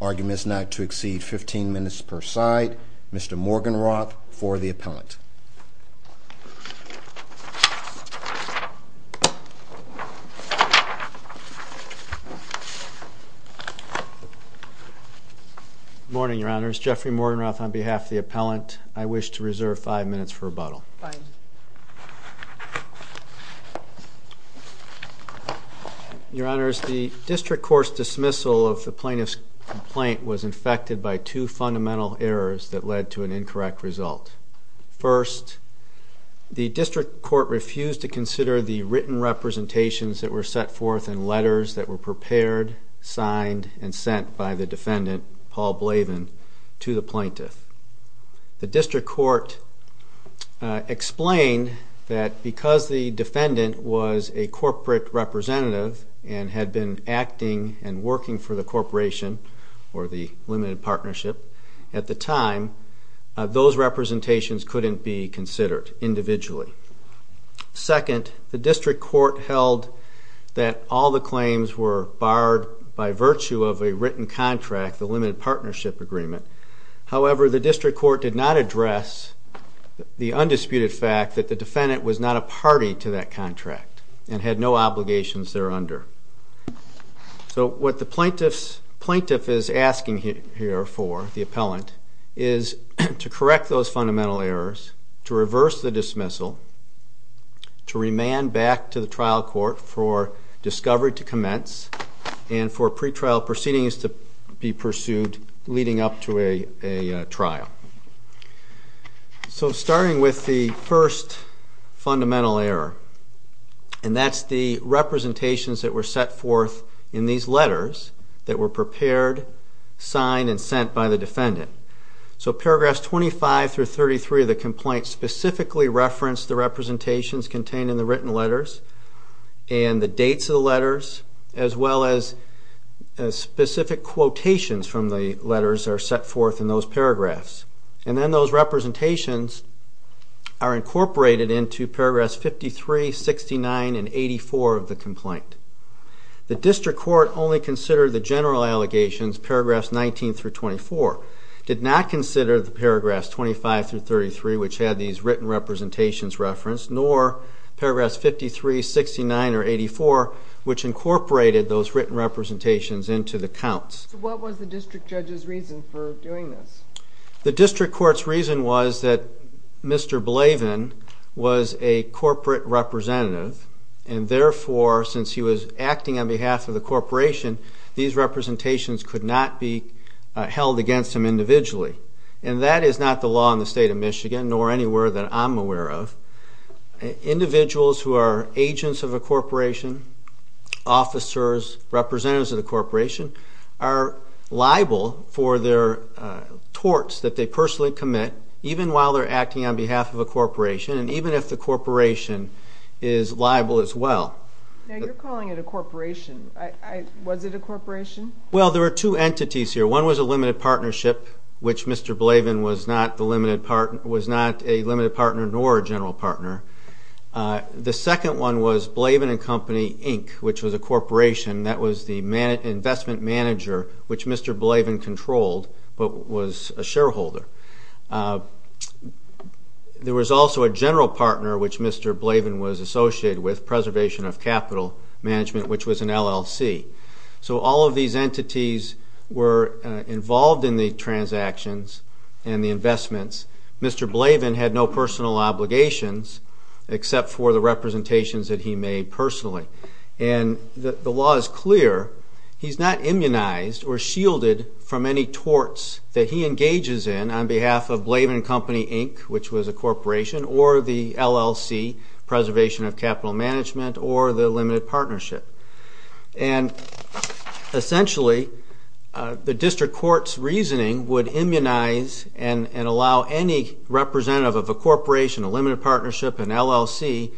Argument is not to exceed 15 minutes per side. Mr. Morgenroth, for the appellant. Good morning, Your Honor. It's Jeffrey Morgenroth on behalf of the appellant. I wish to reserve five minutes for the appeal. reserve five minutes for the appeal. Your Honor, the district court's dismissal of the plaintiff's complaint was infected by two fundamental errors that led to an incorrect result. First, the district court refused to consider the written representations that were set forth in letters that were prepared, signed, and sent by the defendant, Paul Blavin, to the plaintiff. The district court explained that because the defendant was a corporate representative and had been acting and working for the corporation, or the limited partnership, at the time, those representations couldn't be considered individually. Second, the district court held that all the claims were barred by virtue of a written contract, the limited partnership agreement. However, the district court did not address the undisputed fact that the defendant was not a party to that contract and had no obligations thereunder. So what the plaintiff is asking here for, the appellant, is to correct those fundamental errors, to reverse the dismissal, to remand back to the trial court for discovery to commence, and for pre-trial proceedings to be pursued leading up to a dismissal. So starting with the first fundamental error, and that's the representations that were set forth in these letters that were prepared, signed, and sent by the defendant. So paragraphs 25 through 33 of the complaint specifically reference the representations contained in the written letters, and the dates of the letters, as well as specific quotations from the letters that are set forth in the written letters. And then those representations are incorporated into paragraphs 53, 69, and 84 of the complaint. The district court only considered the general allegations, paragraphs 19 through 24, did not consider the paragraphs 25 through 33, which had these written representations referenced, nor paragraphs 53, 69, or 84, which incorporated those written representations into the counts. So what was the district judge's reason for doing this? Well, the district judge's reason for doing this was that the plaintiffs are liable for their torts that they personally commit, even while they're acting on behalf of a corporation, and even if the corporation is liable as well. Now, you're calling it a corporation. Was it a corporation? Well, there were two entities here. One was a limited partnership, which Mr. Blavin was not a limited partner nor a general partner. The second one was Blavin and Company, Inc., which was a corporation that was the investment manager, which Mr. Blavin controlled, but was a shareholder. There was also a general partner, which Mr. Blavin was associated with, Preservation of Capital Management, which was an LLC. So all of these entities were involved in the transactions and the investments. Mr. Blavin had no personal obligations except for the representations that he made personally. And the law is clear, he's not immunized or shielded from any torts that he engages in on behalf of Blavin and Company, Inc., which was a corporation, or the LLC, Preservation of Capital Management, or the limited partnership. And essentially, the district court's reasoning would immunize and allow any representative of a corporation, a limited partnership, an LLC,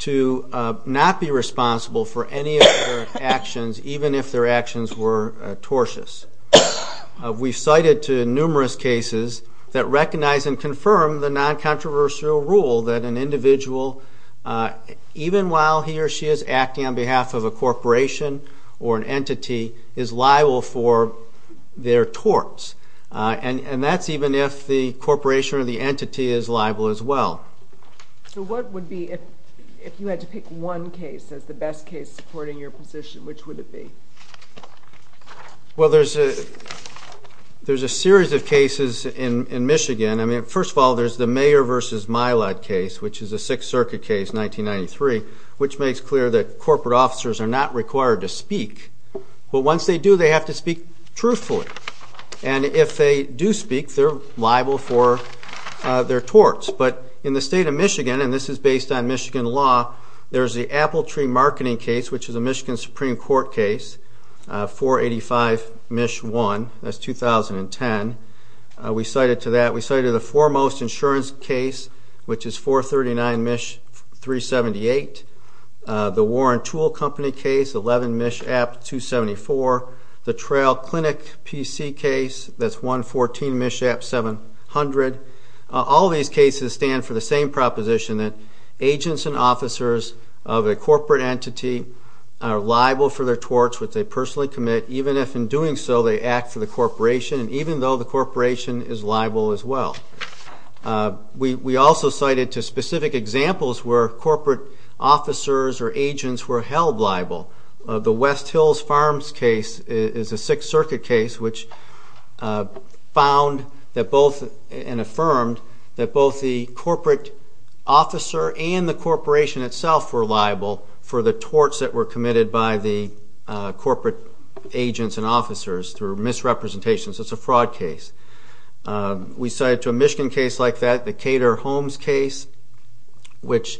to not be responsible for any of their actions, even if their actions were tortious. We've cited numerous cases that recognize and confirm the non-controversial rule that an individual, even while he or she is acting on behalf of a corporation, is not liable as a general partner. The general partner of a corporation or an entity is liable for their torts, and that's even if the corporation or the entity is liable as well. So what would be, if you had to pick one case as the best case supporting your position, which would it be? Well, there's a series of cases in Michigan. I mean, first of all, there's the Mayer v. Milad case, which is a Sixth Circuit case, 1993, which makes clear that corporate officers are not required to speak, but once they do, they have to speak truthfully. And if they do speak, they're liable for their torts. But in the state of Michigan, and this is based on Michigan law, there's the Appletree Marketing case, which is a Michigan Supreme Court case, 485 MISH 1, that's 2010. We cited to that, we cited the foremost insurance case, which is 439 MISH 378, and we cited to that, we cited to that, we cited the foremost insurance case, which is 439 MISH 378, the Warren Tool Company case, 11 MISH App 274, the Trail Clinic PC case, that's 114 MISH App 700. All these cases stand for the same proposition, that agents and officers of a corporate entity are liable for their torts, which they personally commit, even if in doing so, they act for the corporation, and even though the corporation is liable as well. We also cited to specific examples where corporate officers or agents were held liable. The West Hills Farms case is a Sixth Circuit case, which found that both, and affirmed, that both the corporate officer and the corporation itself were liable for the torts that were committed by the corporate agents and officers through misrepresentations. It's a fraud case. We cited to a Michigan case like that, the Cater-Holmes case, which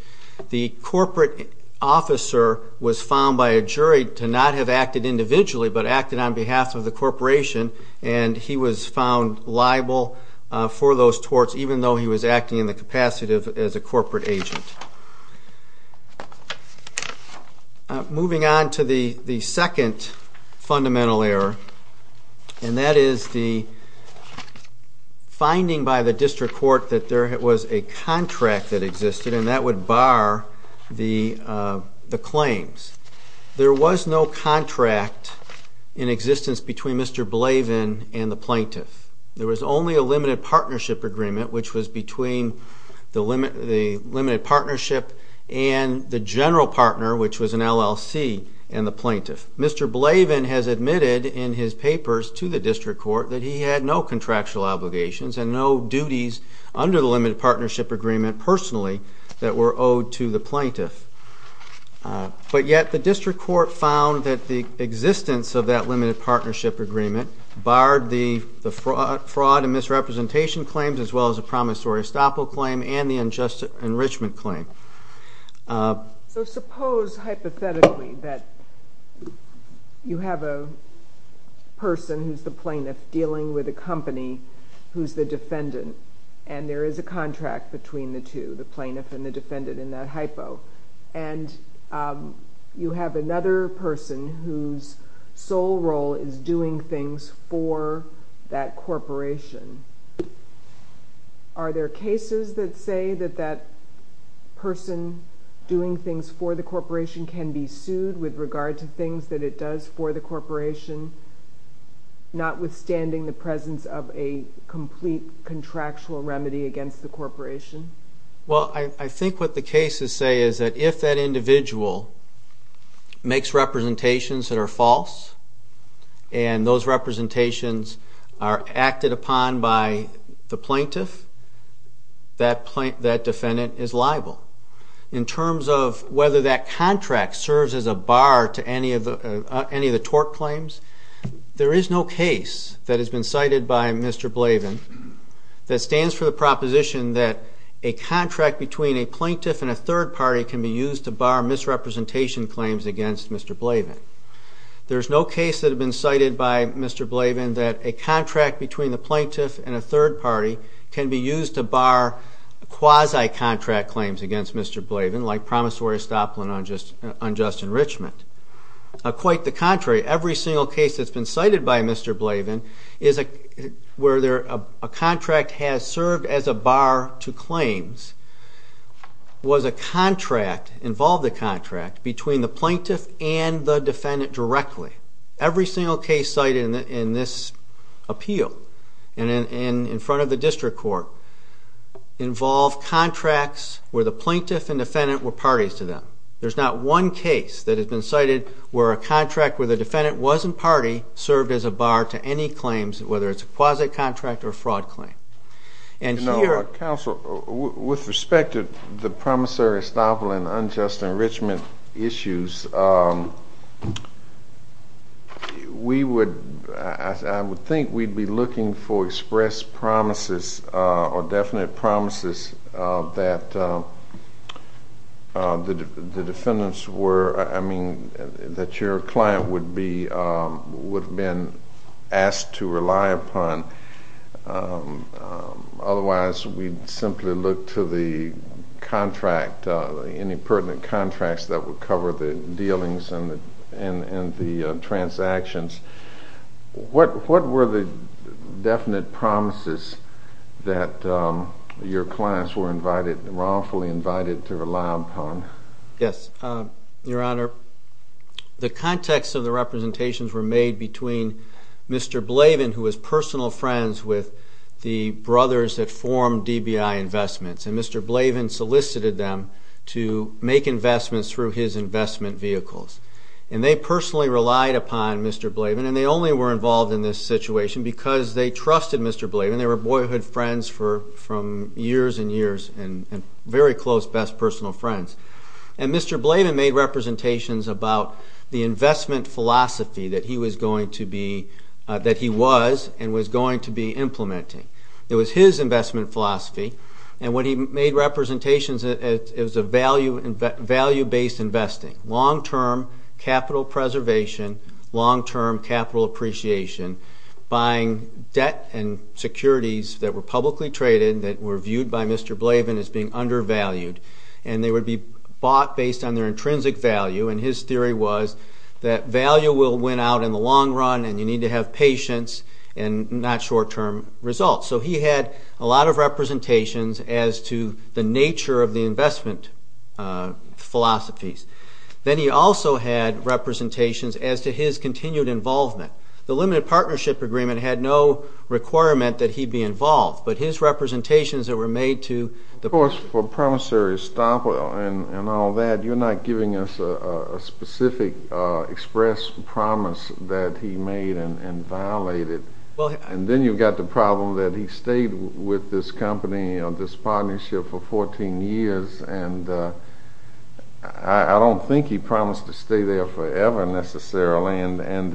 the corporate officer was found by a jury to not have acted individually, but acted on behalf of the corporation, and he was found liable for those torts, even though he was acting in the capacity as a corporate agent. Moving on to the second fundamental error, and that is the misrepresentations. The misrepresentations are the finding by the district court that there was a contract that existed, and that would bar the claims. There was no contract in existence between Mr. Blavin and the plaintiff. There was only a limited partnership agreement, which was between the limited partnership and the general partner, which was an LLC, and the plaintiff. Mr. Blavin has admitted in his papers to the district court that he had no contractual obligations and no duties under the limited partnership agreement personally that were owed to the plaintiff. But yet the district court found that the existence of that limited partnership agreement barred the fraud and misrepresentation claims, as well as the promissory estoppel claim and the unjust enrichment claim. So suppose hypothetically that you have a person who's the plaintiff dealing with a company who's the defendant, and there is a contract between the two, the plaintiff and the defendant in that hypo, and you have another person whose sole role is doing things for that corporation. Are there cases that say that that person doing things for the corporation can be sued with regard to things that it does for the corporation, notwithstanding the presence of a complete contractual remedy against the corporation? Well, I think what the cases say is that if that individual makes representations that are false, and those representations are acted upon by the plaintiff, then that person is not subject to prosecution. If that individual makes representations that are not acted upon by the plaintiff, that defendant is liable. In terms of whether that contract serves as a bar to any of the tort claims, there is no case that has been cited by Mr. Blavin that stands for the proposition that a contract between a plaintiff and a third party can be used to bar misrepresentation claims against Mr. Blavin. There's no case that has been cited by Mr. Blavin that a contract between the plaintiff and a third party can be used to bar quasi-contract claims against Mr. Blavin, like promissory stop on unjust enrichment. Quite the contrary, every single case that's been cited by Mr. Blavin where a contract has served as a bar to claims was a contract, involved a contract, between the plaintiff and the defendant. Every single case cited in this appeal, and in front of the district court, involved contracts where the plaintiff and defendant were parties to them. There's not one case that has been cited where a contract where the defendant wasn't party served as a bar to any claims, whether it's a quasi-contract or a fraud claim. And here... We would, I would think we'd be looking for express promises or definite promises that the defendants were, I mean, that your client would be, would have been asked to rely upon. Otherwise, we'd simply look to the contract, any pertinent contracts that would cover the dealings and the claims. What were the definite promises that your clients were invited, wrongfully invited to rely upon? Yes, Your Honor, the context of the representations were made between Mr. Blavin, who was personal friends with the brothers that formed DBI Investments, and Mr. Blavin solicited them to make investments through his investment vehicles. And they personally relied upon Mr. Blavin, and they only were involved in this situation because they trusted Mr. Blavin. They were boyhood friends for, from years and years, and very close, best personal friends. And Mr. Blavin made representations about the investment philosophy that he was going to be, that he was and was going to be implementing. It was his investment philosophy, and what he made representations, it was a value-based investing. Long-term capital preservation, long-term capital appreciation, buying debt and securities that were publicly traded, that were viewed by Mr. Blavin as being undervalued. And they would be bought based on their intrinsic value, and his theory was that value will win out in the long run, and you need to have patience and not short-term results. So he had a lot of representations as to the nature of the investment philosophies. Then he also had representations as to his continued involvement. The limited partnership agreement had no requirement that he be involved, but his representations that were made to the... Of course, for a promissory stop and all that, you're not giving us a specific express promise that he made and violated. And then you've got the problem that he stayed with this company, this partnership, for 14 years, and I don't think he's going to go back. I don't think he promised to stay there forever, necessarily, and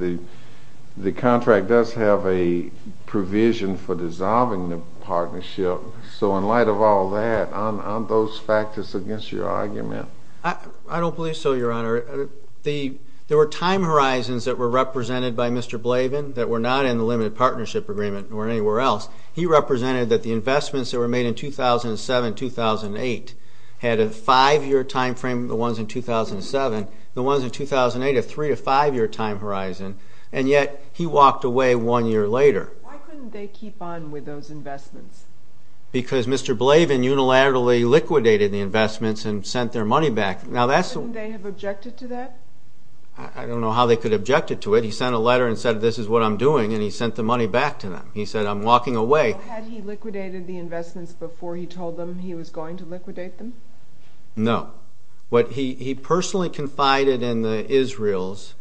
the contract does have a provision for dissolving the partnership. So in light of all that, aren't those factors against your argument? I don't believe so, Your Honor. There were time horizons that were represented by Mr. Blavin that were not in the limited partnership agreement or anywhere else. He represented that the investments that were made in 2007-2008 had a five-year time frame, the ones in 2007. The ones in 2008, a three- to five-year time horizon, and yet he walked away one year later. Why couldn't they keep on with those investments? Because Mr. Blavin unilaterally liquidated the investments and sent their money back. Why couldn't they have objected to that? I don't know how they could have objected to it. He sent a letter and said, this is what I'm doing, and he sent the money back to them. Had he liquidated the investments before he told them he was going to liquidate them? No. He personally confided in the Israels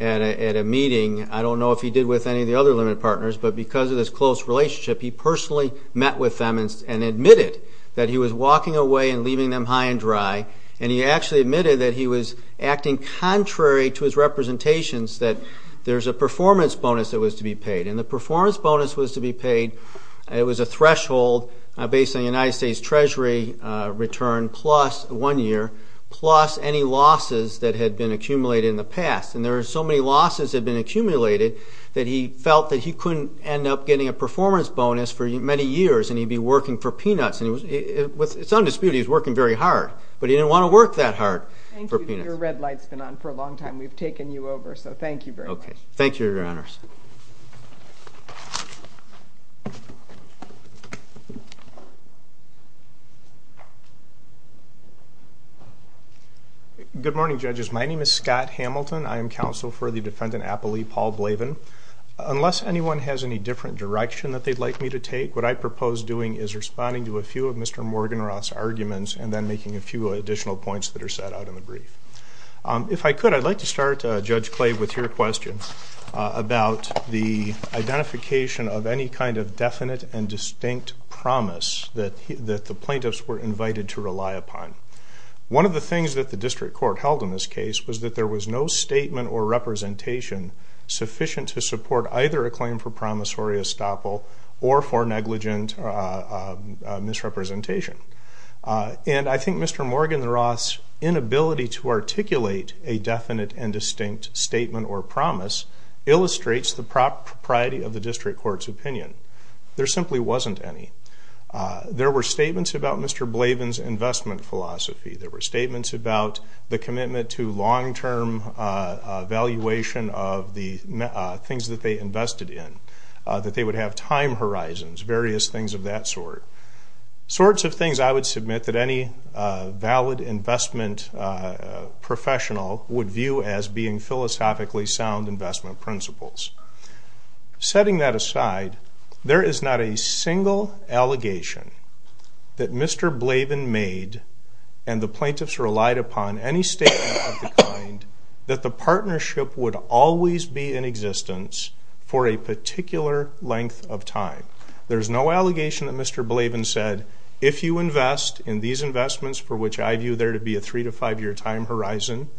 at a meeting, I don't know if he did with any of the other limited partners, but because of this close relationship, he personally met with them and admitted that he was walking away and leaving them high and dry. He actually admitted that he was acting contrary to his representations, that there's a performance bonus that was to be paid. The performance bonus was to be paid, it was a threshold based on the United States Treasury return plus one year, plus any losses that had been accumulated in the past. There were so many losses that had been accumulated that he felt that he couldn't end up getting a performance bonus for many years, and he'd be working for peanuts. It's undisputed, he was working very hard, but he didn't want to work that hard for peanuts. Thank you, your red light's been on for a long time, we've taken you over, so thank you very much. Good morning, judges. My name is Scott Hamilton, I am counsel for the defendant, Appali Paul Blavin. Unless anyone has any different direction that they'd like me to take, what I propose doing is responding to a few of Mr. Morganroth's arguments and then making a few additional points that are set out in the brief. If I could, I'd like to start, Judge Clave, with your question about the identification of any kind of definite and distinct promise that the plaintiffs were invited to rely upon. One of the things that the district court held in this case was that there was no statement or representation sufficient to support either a claim for promissory estoppel or for negligent misrepresentation. And I think Mr. Morganroth's inability to articulate a definite and distinct statement or promise illustrates the propriety of the district court's opinion. There simply wasn't any. There were statements about Mr. Blavin's investment philosophy, there were statements about the commitment to long-term valuation of the things that they invested in, that they would have time horizons, various things of that sort. Sorts of things I would submit that any valid investment professional would view as being philosophically sound investment principles. Setting that aside, there is not a single allegation that Mr. Blavin made and the plaintiffs relied upon any statement of the kind that the partnership would always be in existence for a particular length of time. There's no allegation that Mr. Blavin said, if you invest in these investments for which I view there to be a three- to five-year time horizon,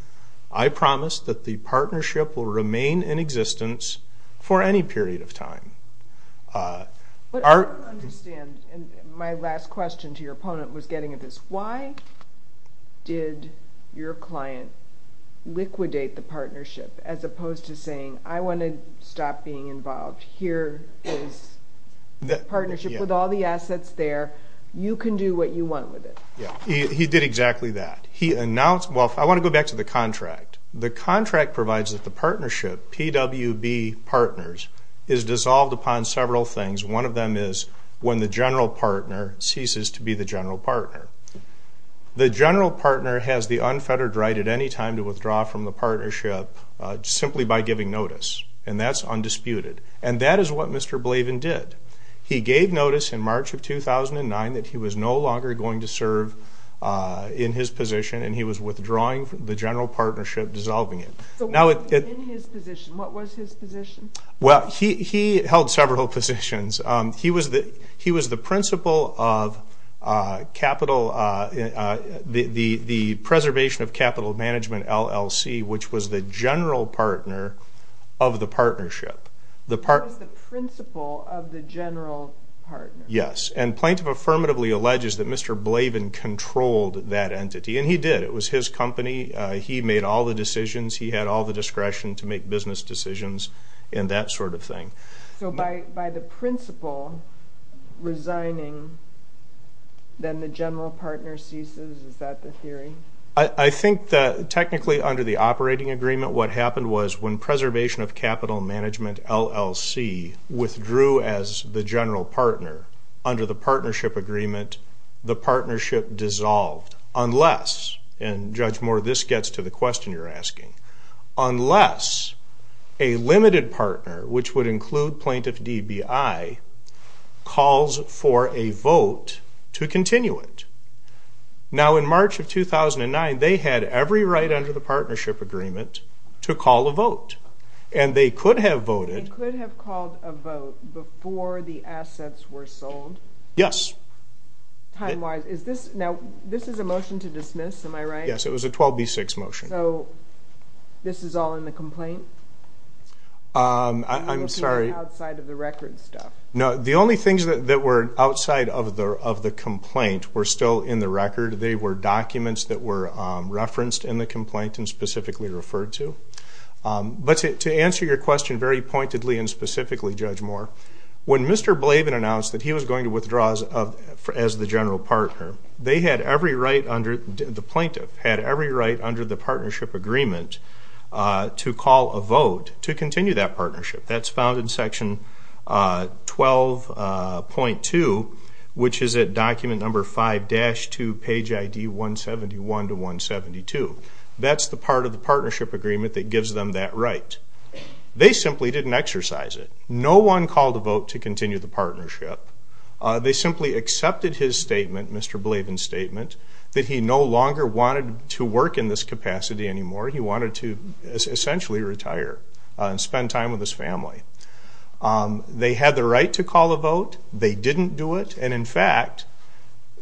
I promise that the partnership will remain in existence for a very long time. I don't understand, and my last question to your opponent was getting at this, why did your client liquidate the partnership as opposed to saying, I want to stop being involved, here is the partnership with all the assets there, you can do what you want with it. He did exactly that. He announced, well, I want to go back to the contract, the contract provides that the partnership, PWB Partners, is dissolved upon several things. One of them is when the general partner ceases to be the general partner. The general partner has the unfettered right at any time to withdraw from the partnership simply by giving notice, and that's undisputed. And that is what Mr. Blavin did. He was withdrawing from the general partnership, dissolving it. He held several positions. He was the principal of the Preservation of Capital Management, LLC, which was the general partner of the partnership. That was the principal of the general partner. Yes, and Plaintiff affirmatively alleges that Mr. Blavin controlled that entity, and he did, it was his company, he made all the decisions, he had all the discretion to make business decisions, and that sort of thing. So by the principal resigning, then the general partner ceases, is that the theory? I think that technically under the operating agreement, what happened was when Preservation of Capital Management, LLC, withdrew as the general partner, under the partnership agreement, the partnership dissolved. Unless, and Judge Moore, this gets to the question you're asking, unless a limited partner, which would include Plaintiff DBI, calls for a vote to continue it. Now in March of 2009, they had every right under the partnership agreement to call a vote. And they could have voted. They could have called a vote before the assets were sold? Yes. Time-wise, now this is a motion to dismiss, am I right? Yes, it was a 12B6 motion. So this is all in the complaint? I'm sorry. Outside of the record stuff? No, the only things that were outside of the complaint were still in the record, they were documents that were referenced in the complaint and specifically referred to. But to answer your question very pointedly and specifically, Judge Moore, when Mr. Blavin announced that he was going to withdraw as the general partner, they had every right under, the plaintiff, had every right under the partnership agreement to call a vote to continue that partnership. That's found in section 12.2, which is at document number 5-2, page ID 171 to 172. That's the part of the partnership agreement that gives them that right. They simply didn't exercise it. No one called a vote to continue the partnership. They simply accepted his statement, Mr. Blavin's statement, that he no longer wanted to work in this capacity anymore. He wanted to essentially retire and spend time with his family. They had the right to call a vote. They didn't do it. And in fact,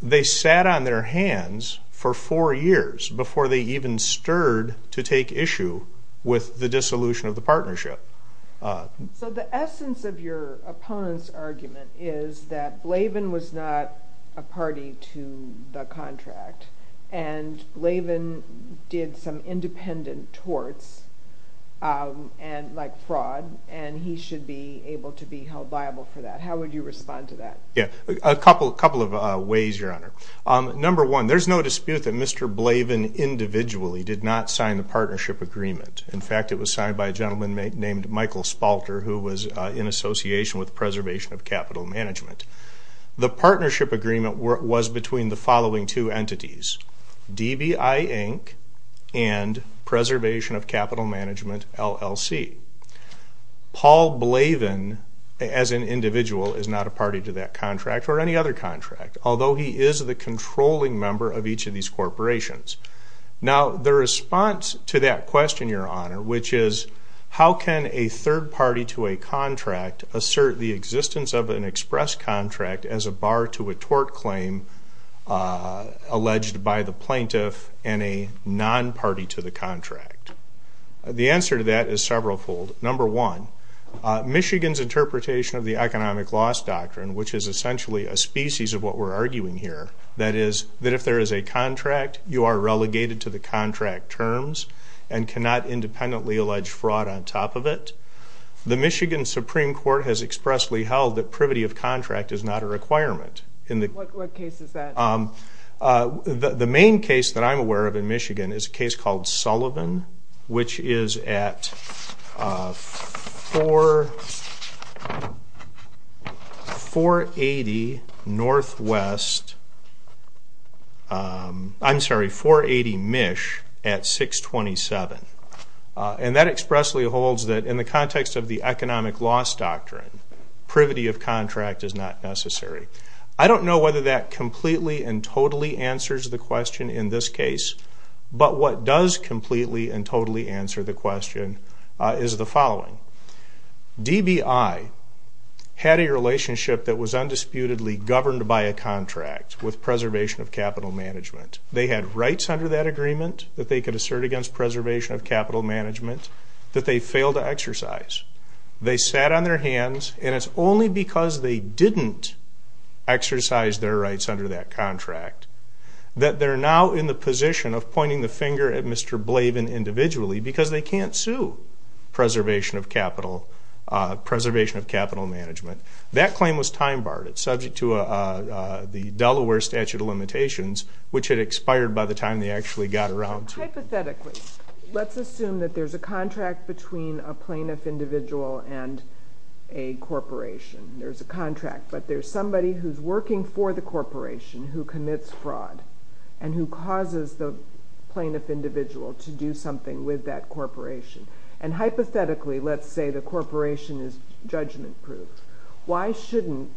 they sat on their hands for four years before they even stirred to take issue with the dissolution of the partnership. So the essence of your opponent's argument is that Blavin was not a party to the contract and Blavin did some independent torts, like fraud, and he should be able to be held liable for that. How would you respond to that? A couple of ways, Your Honor. Number one, there's no dispute that Mr. Blavin individually did not sign the partnership agreement. In fact, it was signed by a gentleman named Michael Spalter, who was in association with Preservation of Capital Management. The partnership agreement was between the following two entities, DBI, Inc. and Preservation of Capital Management, LLC. Paul Blavin, as an individual, is not a party to that contract or any other contract, although he is the controlling member of each of these corporations. Now, the response to that question, Your Honor, which is, how can a third party to a contract assert the existence of an express contract as a bar to a tort claim alleged by the plaintiff and a non-party to the contract? The answer to that is several-fold. Number one, Michigan's interpretation of the economic loss doctrine, which is essentially a species of what we're arguing here, that is, that if there is a contract, you are relegated to the contract terms and cannot independently allege fraud on top of it. The Michigan Supreme Court has expressly held that privity of contract is not a requirement in the... What case is that? The main case that I'm aware of in Michigan is a case called Sullivan, which is at 480 NW... I'm sorry, 480 MISH at 627. And that expressly holds that in the context of the economic loss doctrine, privity of contract is not necessary. I don't know whether that completely and totally answers the question in this case, but what does completely and totally answer the question is the following. DBI had a relationship that was undisputedly governed by a contract with Preservation of Capital Management. They had rights under that agreement that they could assert against Preservation of Capital Management that they failed to exercise. They sat on their hands, and it's only because they didn't exercise their rights under that contract that they're now in the position of pointing the finger at Mr. Blavin individually because they can't sue Preservation of Capital Management. That claim was time-barred. It's subject to the Delaware Statute of Limitations, which had expired by the time they actually got around to it. Hypothetically, let's assume that there's a contract between a plaintiff individual and a corporation. There's a contract, but there's somebody who's working for the corporation who commits fraud and who causes the plaintiff individual to do something with that corporation. And hypothetically, let's say the corporation is judgment-proof, why shouldn't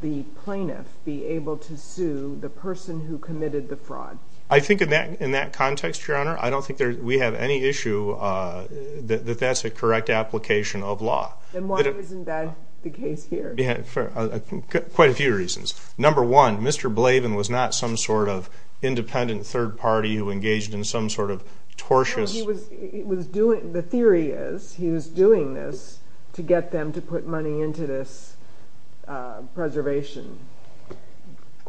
the plaintiff be able to sue the person who committed the fraud? I think in that context, Your Honor, I don't think we have any issue that that's a correct application of law. Then why isn't that the case here? For quite a few reasons. Number one, Mr. Blavin was not some sort of independent third party who engaged in some sort of tortious... No, the theory is he was doing this to get them to put money into this preservation...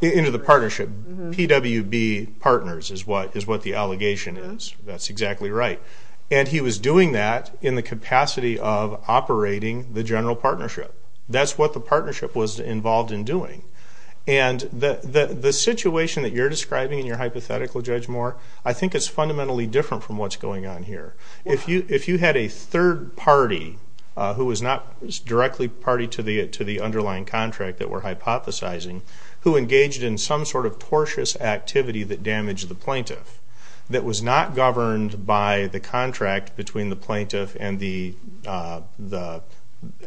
Into the partnership. PWB Partners is what the allegation is. That's exactly right. And he was doing that in the capacity of operating the general partnership. That's what the partnership was involved in doing. And the situation that you're describing in your hypothetical, Judge Moore, I think it's fundamentally different from what's going on here. If you had a third party who was not directly party to the underlying contract that we're hypothesizing, who engaged in some sort of tortious activity that damaged the plaintiff, that was not governed by the contract between the plaintiff and the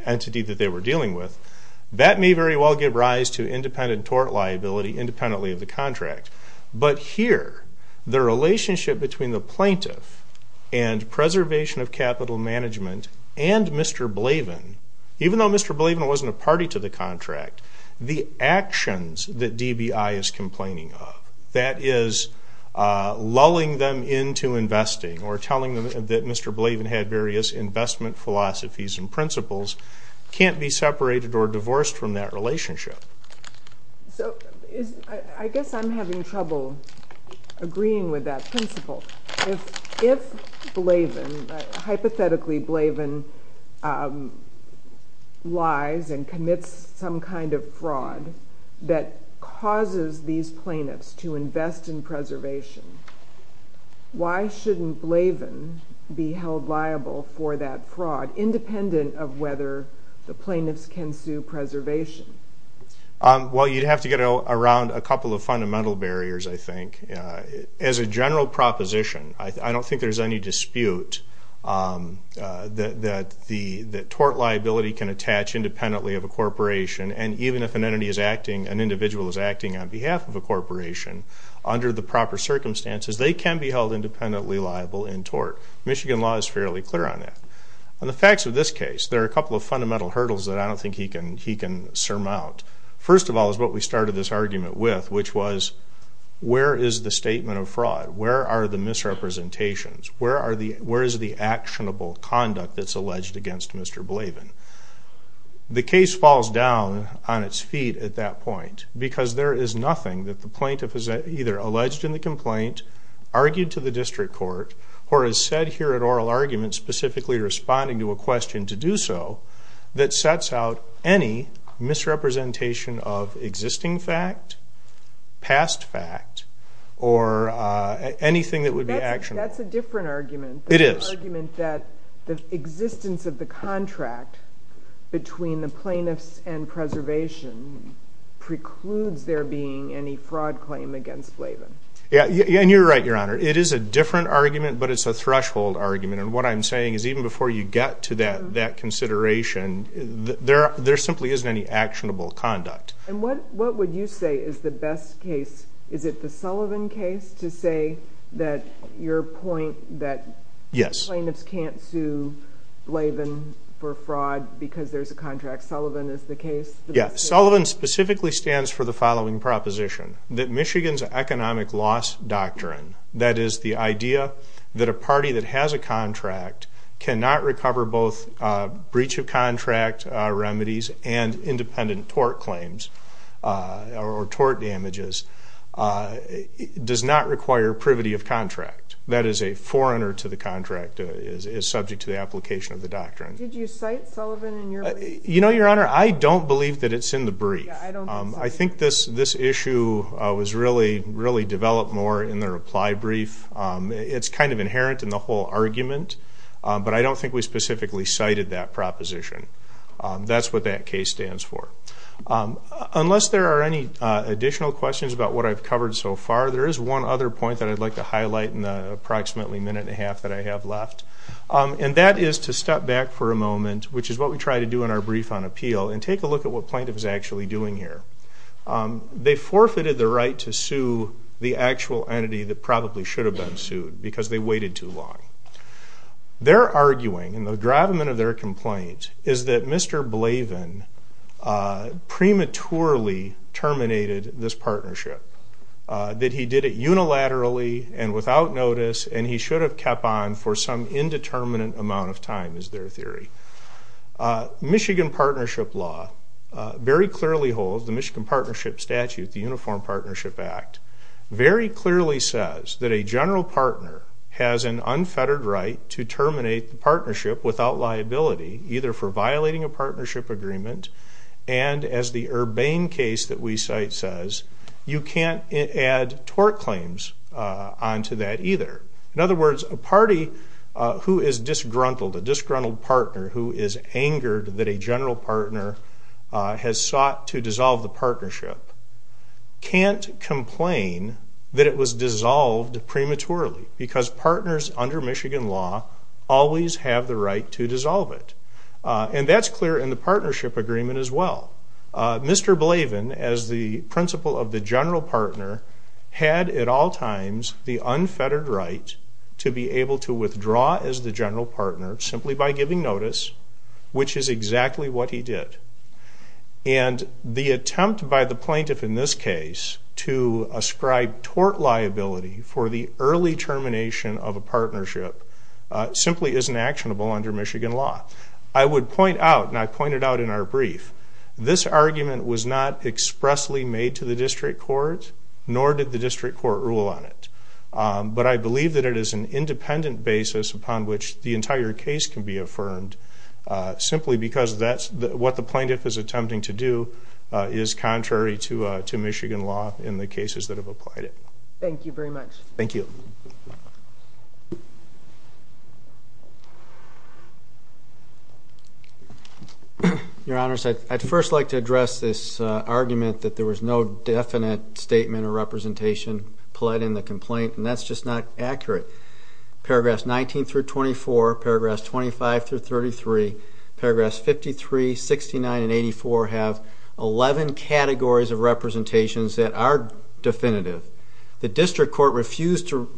entity that they were dealing with, that may very well give rise to independent tort liability independently of the contract. But here, the relationship between the plaintiff and preservation of capital management and Mr. Blavin, even though Mr. Blavin wasn't a party to the contract, the actions that DBI is complaining of, that is, lulling them into investing or telling them that Mr. Blavin had various investment philosophies and principles, can't be separated or divorced from that relationship. I guess I'm having trouble agreeing with that principle. If Blavin, hypothetically Blavin, lies and commits some kind of fraud that causes these plaintiffs to invest in preservation, why shouldn't Blavin be held liable for that fraud, independent of whether the plaintiffs can sue preservation? Well, you'd have to get around a couple of fundamental barriers, I think. As a general proposition, I don't think there's any dispute that tort liability can attach independently of a corporation, and even if an individual is acting on behalf of a corporation, under the proper circumstances, they can be held independently liable in tort. Michigan law is fairly clear on that. On the facts of this case, there are a couple of fundamental hurdles that I don't think he can surmount. First of all is what we started this argument with, which was, where is the statement of fraud? Where are the misrepresentations? Where is the actionable conduct that's alleged against Mr. Blavin? The case falls down on its feet at that point, because there is nothing that the plaintiff has either alleged in the complaint, argued to the district court, or has said here at oral argument, specifically responding to a question to do so, that sets out any misrepresentation of existing fact, past fact, or anything that would be actionable. That's a different argument. It is. It is a different argument that the existence of the contract between the plaintiffs and preservation precludes there being any fraud claim against Blavin. You're right, Your Honor. It is a different argument, but it's a threshold argument. What I'm saying is even before you get to that consideration, there simply isn't any actionable conduct. And what would you say is the best case? Is it the Sullivan case to say that your point that plaintiffs can't sue Blavin for fraud because there's a contract? Sullivan is the case? Sullivan specifically stands for the following proposition, that Michigan's economic loss doctrine, that is the idea that a party that has a contract cannot recover both breach of contract remedies and independent tort claims or tort damages, does not require privity of contract. That is a foreigner to the contract is subject to the application of the doctrine. Did you cite Sullivan in your brief? I don't believe that it's in the brief. I think this issue was really developed more in the reply brief. It's kind of inherent in the whole argument, but I don't think we specifically cited that proposition. That's what that case stands for. Unless there are any additional questions about what I've covered so far, there is one other point that I'd like to highlight in the approximately minute and a half that I have left. And that is to step back for a moment, which is what we try to do in our brief on appeal, and take a look at what plaintiff is actually doing here. They forfeited the right to sue the actual entity that probably should have been sued because they waited too long. Their arguing and the gravamen of their complaint is that Mr. Blavin prematurely terminated this partnership, that he did it unilaterally and without notice, and he should have kept on for some indeterminate amount of time, is their theory. The Michigan Partnership Statute, the Uniform Partnership Act, very clearly says that a general partner has an unfettered right to terminate the partnership without liability, either for violating a partnership agreement, and as the Urbane case that we cite says, you can't add tort claims onto that either. In other words, a party who is disgruntled, a disgruntled partner who is angered that a general partner has sought to dissolve the partnership, can't complain that it was dissolved prematurely, because partners under Michigan law always have the right to dissolve it. And that's clear in the partnership agreement as well. Mr. Blavin, as the principal of the general partner, had at all times the unfettered right to be able to withdraw as the general partner simply by giving notice, which is exactly what he did. And the attempt by the plaintiff in this case to ascribe tort liability for the early termination of a partnership simply isn't actionable under Michigan law. I would point out, and I've pointed out in our brief, this argument was not expressly made to the district court, nor did the district court rule on it. But I believe that it is an independent basis upon which the entire case can be affirmed simply because what the plaintiff is attempting to do is contrary to Michigan law in the cases that have applied it. Your Honors, I'd first like to address this argument that there was no definite statement or representation pled in the complaint, and that's just not accurate. Paragraphs 19 through 24, paragraphs 25 through 33, paragraphs 53, 69, and 84 have 11 categories of representations that are definitive. The district court refused to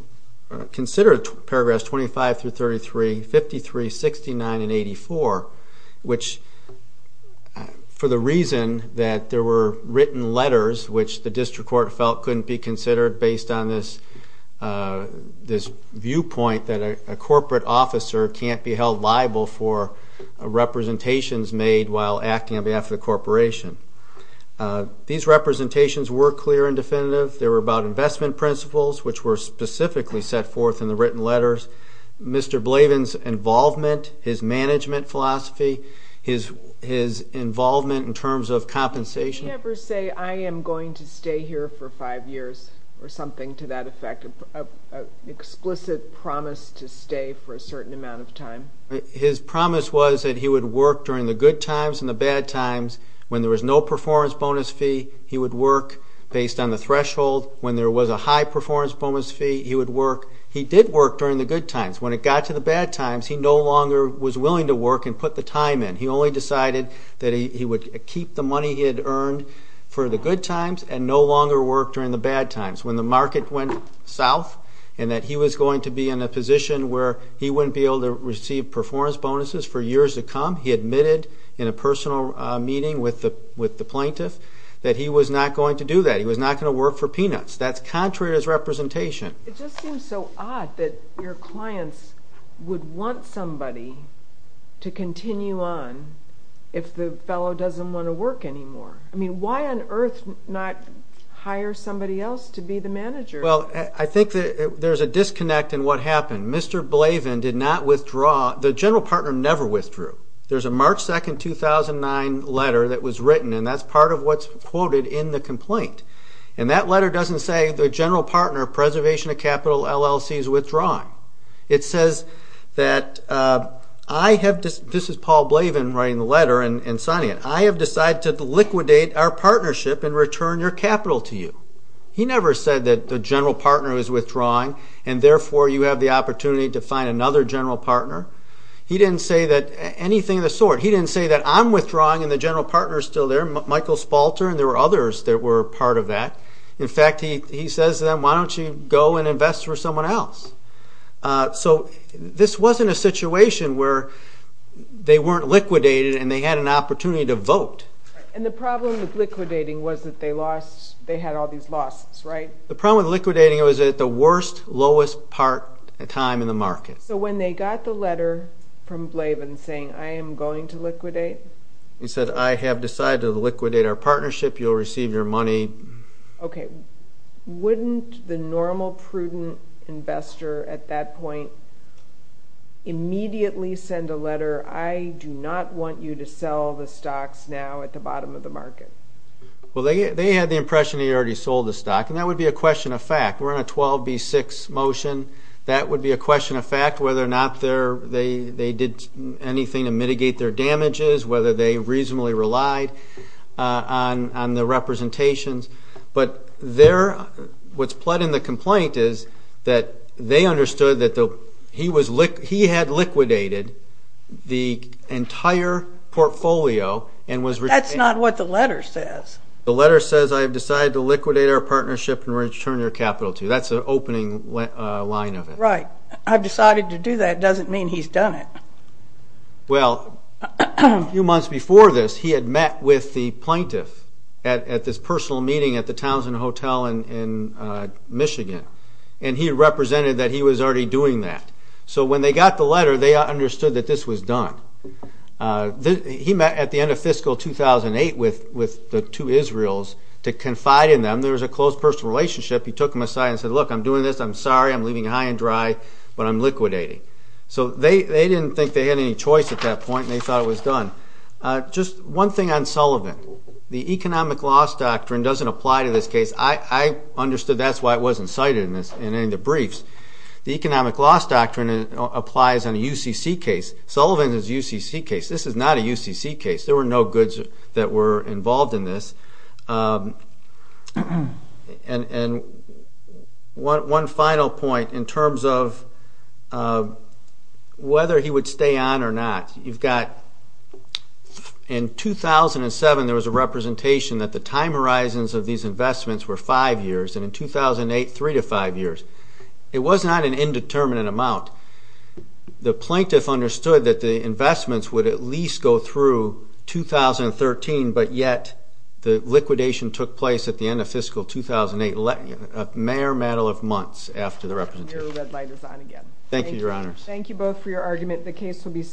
consider paragraphs 25 through 33, 53, 69, and 84, which for the reason that there were written letters, which the district court felt couldn't be considered based on this viewpoint that a corporate officer can't be held liable for representations made while acting on behalf of the corporation. These representations were clear and definitive. They were about investment principles, which were specifically set forth in the written letters. Mr. Blavin's involvement, his management philosophy, his involvement in terms of compensation... Did he ever say, I am going to stay here for five years, or something to that effect? An explicit promise to stay for a certain amount of time? His promise was that he would work during the good times and the bad times. When there was no performance bonus fee, he would work based on the threshold. When there was a high performance bonus fee, he would work. He did work during the good times. When it got to the bad times, he no longer was willing to work and put the time in. He only decided that he would keep the money he had earned for the good times and no longer work during the bad times. When the market went south and that he was going to be in a position where he wouldn't be able to receive performance bonuses for years to come, he admitted in a personal meeting with the plaintiff that he was not going to do that. He was not going to work for peanuts. That's contrary to his representation. It just seems so odd that your clients would want somebody to continue on if the fellow doesn't want to work anymore. Why on earth not hire somebody else to be the manager? I think there's a disconnect in what happened. The general partner never withdrew. There's a March 2, 2009 letter that was written, and that's part of what's quoted in the complaint. That letter doesn't say the general partner of Preservation of Capital LLC is withdrawing. This is Paul Blavin writing the letter and signing it. I have decided to liquidate our partnership and return your capital to you. He never said that the general partner was withdrawing and therefore you have the opportunity to find another general partner. He didn't say anything of the sort. He didn't say that I'm withdrawing and the general partner is still there, Michael Spalter, and there were others that were part of that. In fact, he says to them, why don't you go and invest with someone else? This wasn't a situation where they weren't liquidated and they had an opportunity to vote. The problem with liquidating was that they had all these losses, right? The problem with liquidating was that it was at the worst, lowest time in the market. When they got the letter from Blavin saying, I am going to liquidate? He said, I have decided to liquidate our partnership, you'll receive your money. Okay, wouldn't the normal prudent investor at that point immediately send a letter, I do not want you to sell the stocks now at the bottom of the market? Well, they had the impression that he already sold the stock and that would be a question of fact. We're in a 12B6 motion, that would be a question of fact, whether or not they did anything to mitigate their damages, whether they reasonably relied on the representations. But what's plot in the complaint is that they understood that he had liquidated the entire portfolio. That's not what the letter says. The letter says, I have decided to liquidate our partnership and return your capital to you. That's the opening line of it. Right, I've decided to do that doesn't mean he's done it. Well, a few months before this, he had met with the plaintiff at this personal meeting at the Townsend Hotel in Michigan. And he represented that he was already doing that. So when they got the letter, they understood that this was done. He met at the end of fiscal 2008 with the two Israels to confide in them. There was a close personal relationship. He took them aside and said, look, I'm doing this, I'm sorry, I'm leaving you high and dry, but I'm liquidating. So they didn't think they had any choice at that point and they thought it was done. Just one thing on Sullivan, the economic loss doctrine doesn't apply to this case. I understood that's why it wasn't cited in any of the briefs. The economic loss doctrine applies on a UCC case. Sullivan is a UCC case, this is not a UCC case. There were no goods that were involved in this. One final point in terms of whether he would stay on or not. You've got in 2007 there was a representation that the time horizons of these investments were five years, and in 2008, three to five years. It was not an indeterminate amount. The plaintiff understood that the investments would at least go through 2013, but yet the liquidation took place at the end of fiscal 2008, a mere matter of months after the representation. Thank you.